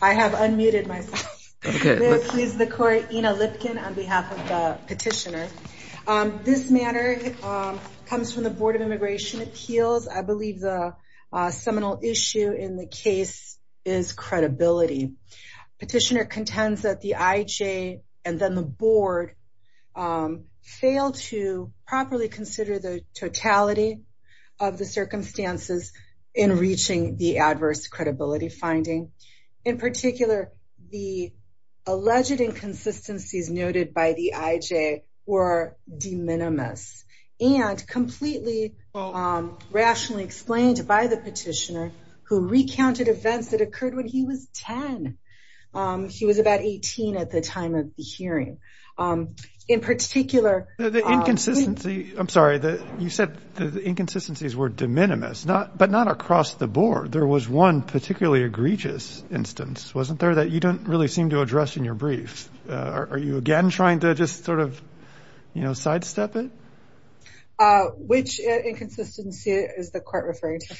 I have unmuted myself. Please, the court, you know, Lipkin on behalf of the petitioner. This matter comes from the Board of Immigration Appeals, I believe the seminal issue in the case is credibility. Petitioner contends that the IJ and then the board failed to properly consider the totality of the circumstances in reaching the adverse credibility finding. In particular, the alleged inconsistencies noted by the IJ were de minimis and completely rationally explained by the petitioner who recounted events that occurred when he was 10. He was about 18 at the time of the incident. I'm sorry, you said the inconsistencies were de minimis, but not across the board. There was one particularly egregious instance, wasn't there, that you don't really seem to address in your brief. Are you again trying to just sort of, you know, sidestep it? Which inconsistency is the court referring to?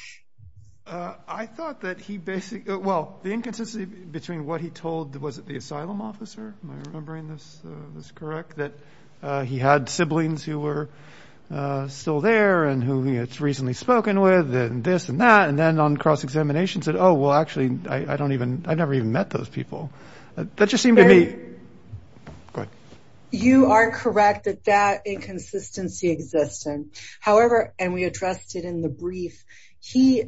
I thought that he basically, well, the inconsistency between what he told, was it the asylum officer? Am I remembering this, this correct, that he had siblings who were still there and who he had recently spoken with and this and that and then on cross examination said, Oh, well, actually, I don't even I've never even met those people. That just seemed to me. But you are correct that that inconsistency exists. However, and we addressed it in the brief, he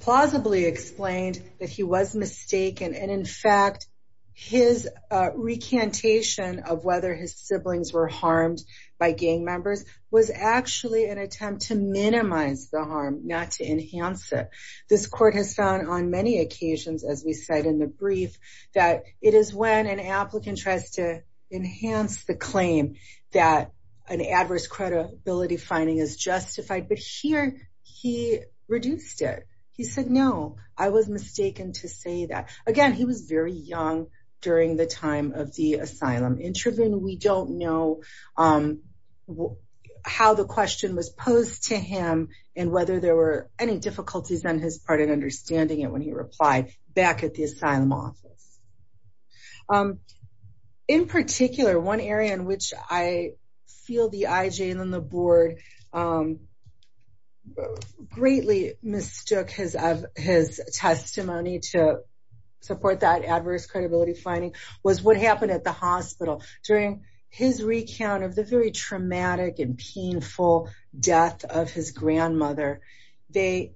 plausibly explained that he was mistaken. And in fact, his recantation of whether his siblings were harmed by gang members was actually an attempt to minimize the harm, not to enhance it. This court has found on many occasions, as we said in the brief, that it is when an applicant tries to enhance the claim that an adverse credibility finding is justified. But here he reduced it. He said, No, I was mistaken to say that. Again, he was very young during the time of the asylum intervention. We don't know how the question was posed to him, and whether there were any difficulties on his part in understanding it when he replied back at the asylum office. In particular, one area in which I feel the IJ and then the board greatly mistook his of his testimony to support that adverse credibility finding was what happened at the hospital during his recount of the very traumatic and painful death of his grandmother. The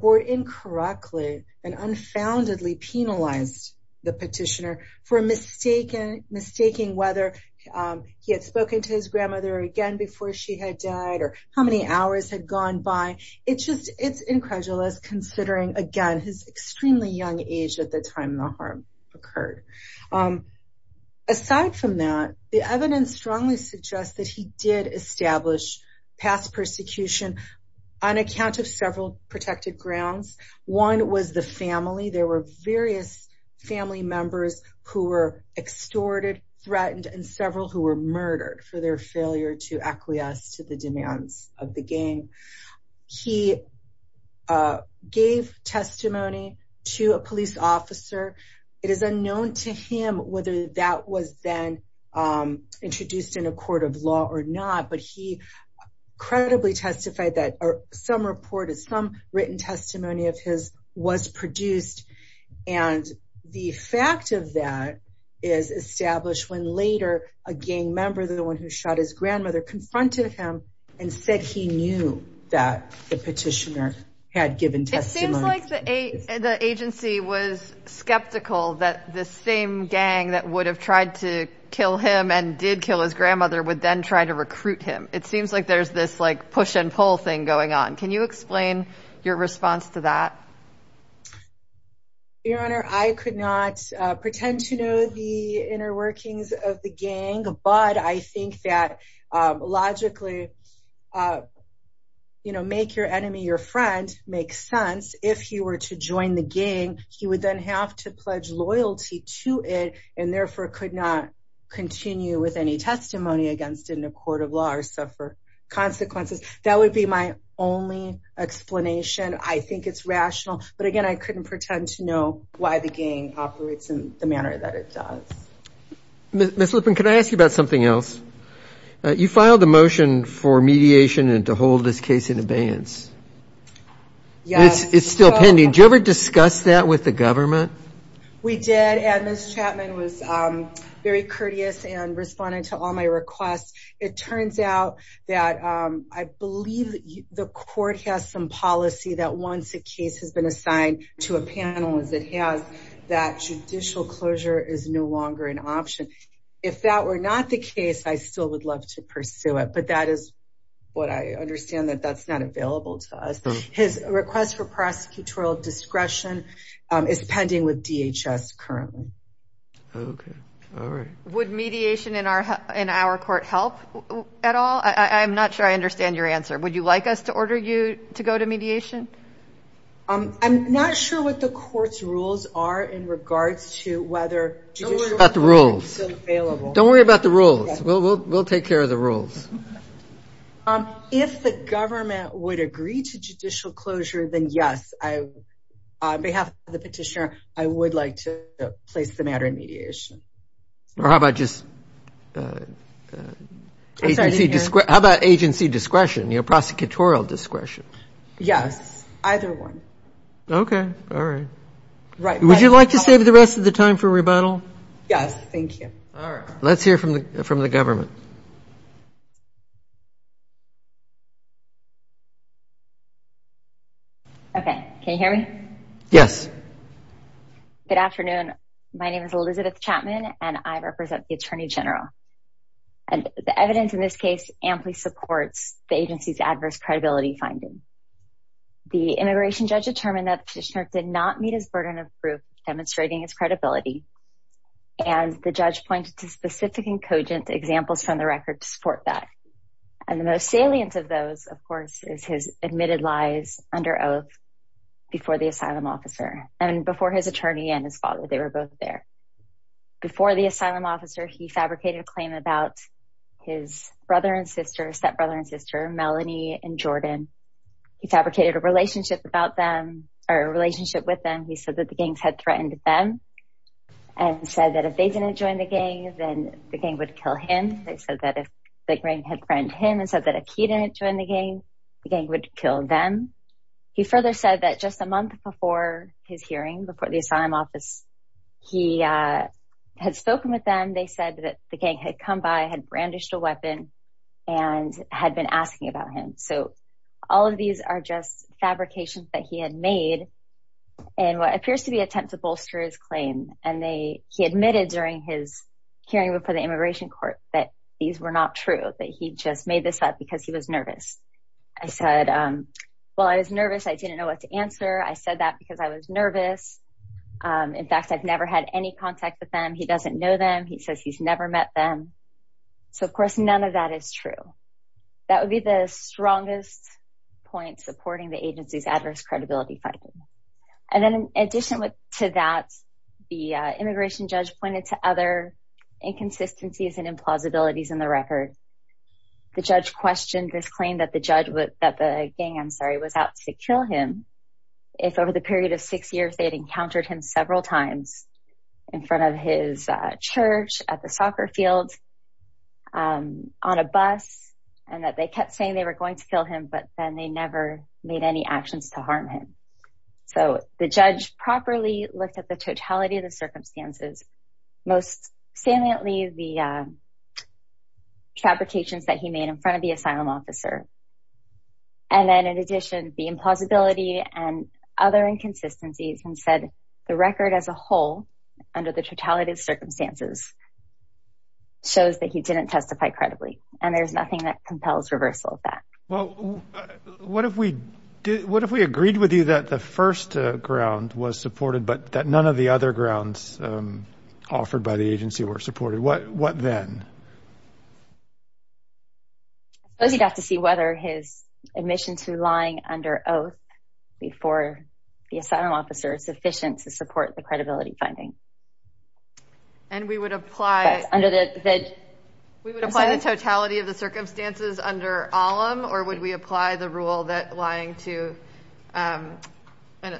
board incorrectly and unfoundedly penalized the petitioner for mistaking whether he had spoken to his grandmother again before she had died or how many hours had gone by. It's just it's incredulous considering again his extremely young age at the time the harm occurred. Aside from that, the evidence strongly suggests that he did establish past persecution on account of several protected grounds. One was the family. There were various family members who were extorted, threatened, and several who were murdered for their failure to acquiesce to the demands of the gang. He gave testimony to a police officer. It is unknown to him whether that was then introduced in a court of law or not, but he credibly testified that some report is some written testimony of his was produced. And the fact of that is established when later a gang member, the one who shot his grandmother, confronted him and said he knew that the petitioner had given testimony. The agency was skeptical that the same gang that would have tried to kill him and did kill his grandmother would then try to recruit him. It seems like there's this like push and pull thing going on. Can you explain your response to that? Your Honor, I could not pretend to know the inner workings of the gang, but I think that logically make your enemy your friend makes sense. If he were to join the gang, he would then have to pledge loyalty to it and therefore could not continue with any testimony against it in a court of law or suffer consequences. That would be my only explanation. I think it's rational, but again, I couldn't pretend to know why the gang operates in the manner that it does. Ms. Lipman, can I ask you about something else? You filed a motion for mediation and to hold this case in abeyance. It's still pending. Did you ever discuss that with the government? We did, and Ms. Chapman was very courteous and responded to all my requests. It turns out that I believe the court has some policy that once a case has been assigned to a panel as it has, that judicial closure is no longer an option. If that were not the case, I still would love to pursue it, but I understand that that's not available to us. His request for prosecutorial discretion is pending with DHS currently. Would mediation in our court help at all? I'm not sure I understand your answer. Would you like us to order you to go to mediation? I'm not sure what the court's rules are in regards to whether judicial closure is still available. Don't worry about the rules. We'll take care of the rules. If the government would agree to judicial closure, then yes. On behalf of the petitioner, I would like to place the matter in mediation. How about agency discretion, prosecutorial discretion? Yes, either one. Okay, all right. Would you like to save the rest of the time for rebuttal? Yes, thank you. All right, let's hear from the government. Okay, can you hear me? Yes. Good afternoon. My name is Elizabeth Chapman, and I represent the immigration judge. The immigration judge determined that the petitioner did not meet his burden of proof demonstrating his credibility, and the judge pointed to specific and cogent examples from the record to support that. And the most salient of those, of course, is his admitted lies under oath before the asylum officer and before his attorney and his father. They were both there. Before the asylum officer, he fabricated a claim about his brother and sister, Melanie and Jordan. He fabricated a relationship about them, or a relationship with them. He said that the gangs had threatened them and said that if they didn't join the gang, then the gang would kill him. They said that if the gang had threatened him and said that if he didn't join the gang, the gang would kill them. He further said that just a month before his hearing, before the asylum office, he had spoken with them. They said that the gang had come by, had brandished a weapon, and had been asking about him. So, all of these are just fabrications that he had made in what appears to be an attempt to bolster his claim. And he admitted during his hearing before the immigration court that these were not true, that he just made this up because he was nervous. He said, well, I was nervous. I didn't know what to answer. I said that because I was nervous. In fact, I've never had any contact with them. He doesn't know them. He says he's never met them. So, of course, none of that is true. That would be the strongest point supporting the agency's adverse credibility finding. And then in addition to that, the immigration judge pointed to other inconsistencies and implausibilities in the record. The judge questioned this claim that the gang was out to kill him if over the period of six years, they had encountered him several times in front of his church, at the soccer field, on a bus, and that they kept saying they were going to kill him, but then they never made any actions to harm him. So, the judge properly looked at the totality of the circumstances, most saliently the fabrications that he made in front of the asylum officer. And then in addition, the impossibility and other inconsistencies and said the record as a whole under the totality of circumstances shows that he didn't testify credibly. And there's nothing that compels reversal of that. Well, what if we did, what if we agreed with you that the first ground was supported, but that none of the other grounds offered by the agency were supported? What then? I suppose you'd have to see whether his admission to lying under oath before the asylum officer is sufficient to support the credibility finding. And we would apply... We would apply the totality of the circumstances under alim, or would we apply the rule that lying to an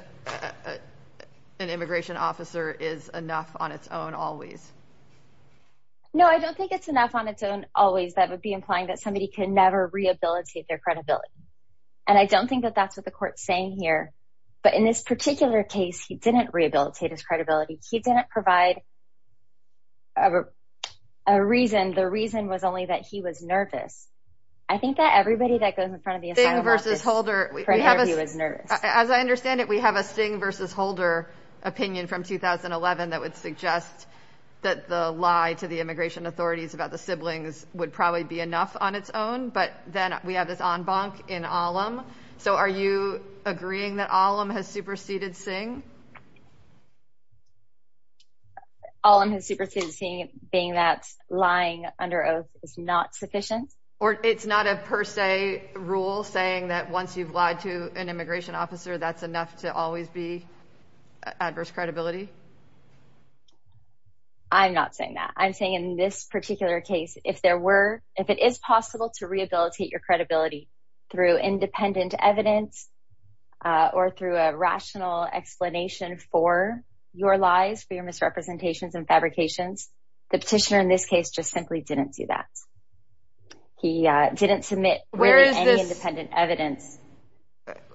immigration officer is enough on its own always? No, I don't think it's enough on its own always. That would be implying that somebody could never rehabilitate their credibility. And I don't think that that's what the court's saying here. But in this particular case, he didn't rehabilitate his credibility. He didn't provide a reason. The reason was only that he was nervous. I think that everybody that goes in front of the asylum officer is nervous. As I understand it, we have a Sting versus Holder opinion from 2011 that would suggest that the lie to the immigration authorities about the siblings would probably be enough on its own. But then we have this en banc in alim. So are you agreeing that alim has superseded Sting? Alim has superseded Sting, being that lying under oath is not sufficient. Or it's not a per se rule saying that once you've lied to an immigration officer, that's enough to always be adverse credibility? I'm not saying that. I'm saying in this particular case, if it is possible to rehabilitate your credibility through independent evidence or through a rational explanation for your lies, for your misrepresentations and fabrications, the petitioner in this case just simply didn't do that. He didn't submit any independent evidence.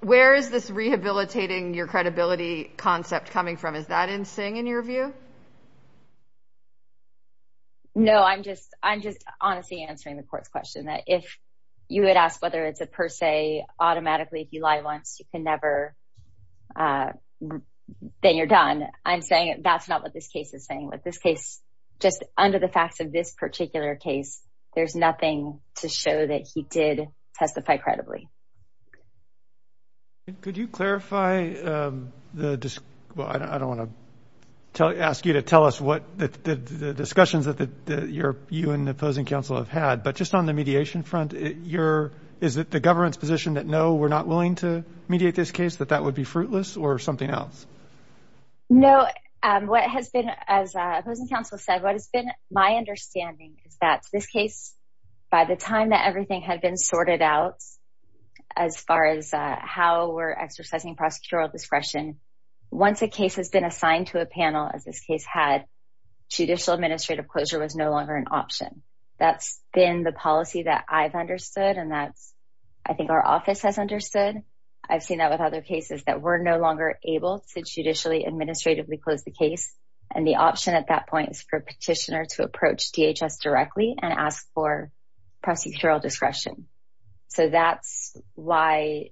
Where is this rehabilitating your credibility concept coming from? Is that in Sting in your view? No, I'm just I'm just honestly answering the court's question that if you had asked whether it's a per se automatically, if you lie once, you can never then you're done. I'm saying that's not what this case is saying. With this case, just under the facts of this particular case, there's nothing to show that he did testify credibly. Could you clarify? I don't want to ask you to tell us what the discussions that you and the opposing counsel have had. But just on the mediation front, is it the government's position that no, we're not willing to mediate this case, that that would be fruitless or something else? No. What has been, as opposing counsel said, what has been my understanding is that this case, by the time that everything had been sorted out, as far as how we're exercising prosecutorial discretion, once a case has been assigned to a panel as this case had, judicial administrative closure was no longer an option. That's been the policy that I've understood. And that's, I think our office has understood. I've seen that with other cases that we're no longer able to judicially administratively close the case. And the option at that point is petitioner to approach DHS directly and ask for prosecutorial discretion. So that's why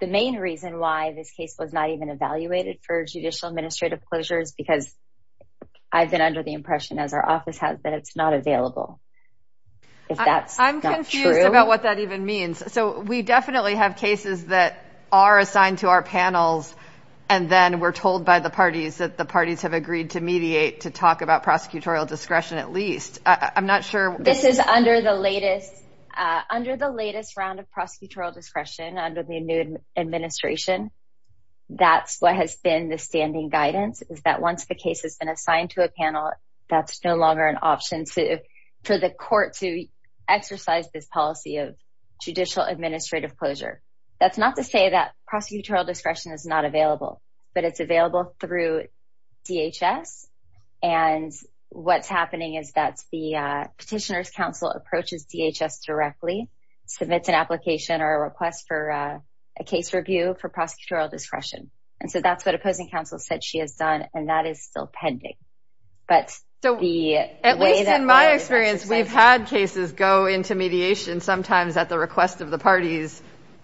the main reason why this case was not even evaluated for judicial administrative closure is because I've been under the impression as our office has that it's not available. If that's not true. I'm confused about what that even means. So we definitely have cases that are assigned to our panels. And then we're told by the parties that the parties have agreed to discretion. At least I'm not sure. This is under the latest, under the latest round of prosecutorial discretion under the new administration. That's what has been the standing guidance is that once the case has been assigned to a panel, that's no longer an option for the court to exercise this policy of judicial administrative closure. That's not to say that prosecutorial discretion is not available, but it's available through DHS. And what's happening is that the petitioner's counsel approaches DHS directly, submits an application or a request for a case review for prosecutorial discretion. And so that's what opposing counsel said she has done. And that is still pending. But the way that in my experience, we've had cases go into mediation sometimes at the request of the parties,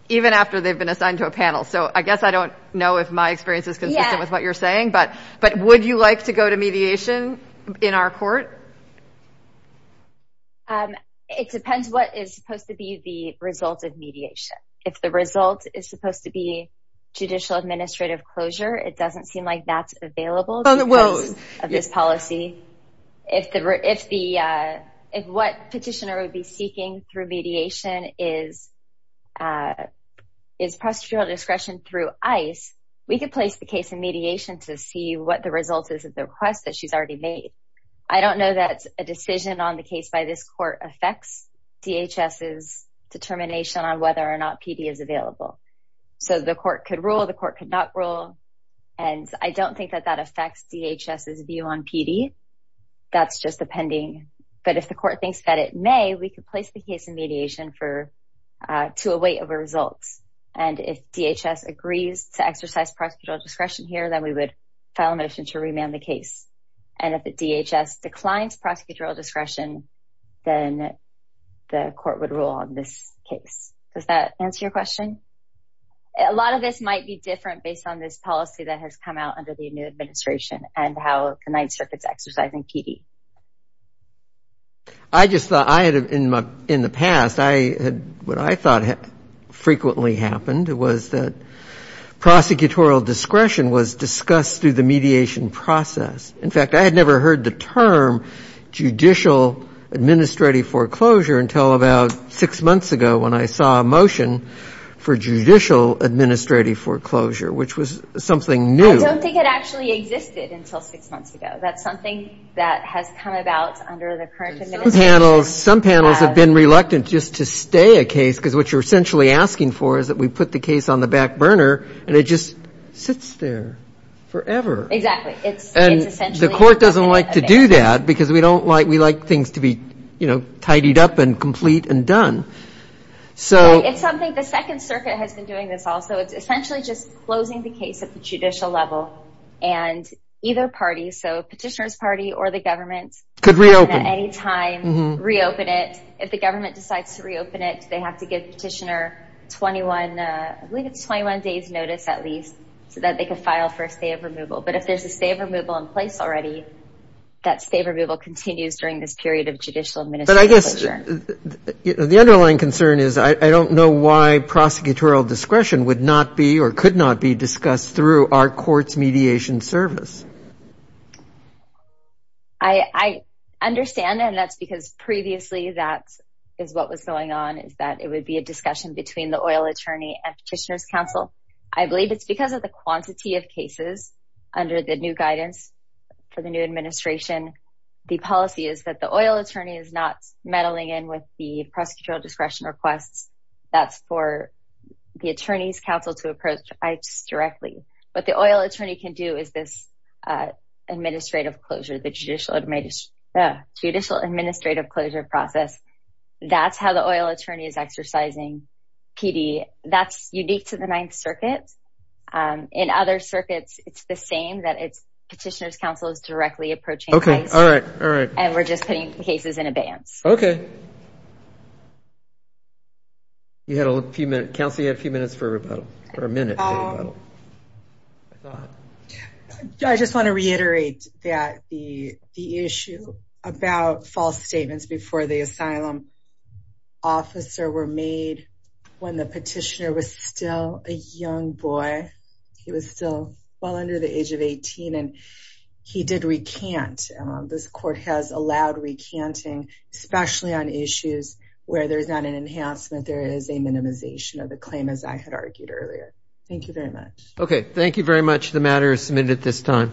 even after they've been assigned to a panel. So I guess I don't know if my experience is consistent with what you're saying, but would you like to go to mediation in our court? It depends what is supposed to be the result of mediation. If the result is supposed to be judicial administrative closure, it doesn't seem like that's available because of this policy. If what petitioner would be seeking through mediation is prosecutorial discretion through ICE, we could place the case in mediation to see what the result is of the request that she's already made. I don't know that a decision on the case by this court affects DHS's determination on whether or not PD is available. So the court could rule, the court could not rule. And I don't think that that affects DHS's view on PD. That's just the pending. But if the court thinks that it may, we could place the case in mediation to await a result. And if DHS agrees to exercise prosecutorial discretion here, then we would file a motion to remand the case. And if the DHS declines prosecutorial discretion, then the court would rule on this case. Does that answer your question? A lot of this might be different based on this policy that has come out under the new law. I just thought in the past, what I thought frequently happened was that prosecutorial discretion was discussed through the mediation process. In fact, I had never heard the term judicial administrative foreclosure until about six months ago when I saw a motion for judicial administrative foreclosure, which was something new. I don't think it actually existed until six months ago. That's something that has come about under the current administration. Some panels have been reluctant just to stay a case because what you're essentially asking for is that we put the case on the back burner and it just sits there forever. Exactly. And the court doesn't like to do that because we don't like, we like things to be tidied up and complete and done. So it's something, the Second Circuit has been doing this also. It's essentially just closing the case at the judicial level and either party, so petitioner's party or the government. Could reopen. At any time, reopen it. If the government decides to reopen it, they have to give the petitioner 21, I believe it's 21 days notice at least, so that they could file for a stay of removal. But if there's a stay of removal in place already, that stay of removal continues during this period of judicial administrative foreclosure. But I guess the underlying concern is, I don't know why prosecutorial discretion would not be or could not be discussed through our court's mediation service. I understand and that's because previously that is what was going on, is that it would be a discussion between the oil attorney and petitioner's counsel. I believe it's because of the quantity of cases under the new guidance for the new administration. The policy is that the oil attorney is not meddling in with the prosecutorial discretion requests. That's for the attorney's counsel to approach ICE directly. What the oil attorney can do is this administrative closure, the judicial administrative closure process. That's how the oil attorney is exercising PD. That's unique to the Ninth Circuit. In other circuits, it's the same, that it's petitioner's counsel is directly approaching ICE and we're just putting cases in advance. Okay. You had a few minutes. Counsel, you had a few minutes for a rebuttal or a minute. I just want to reiterate that the issue about false statements before the asylum officer were made when the petitioner was still a young boy. He was still well under the age of 18 and he did recant. This court has allowed recanting, especially on issues where there's not an enhancement, there is a minimization of the claim, as I had argued earlier. Thank you very much. Okay. Thank you very much. The matter is submitted at this time.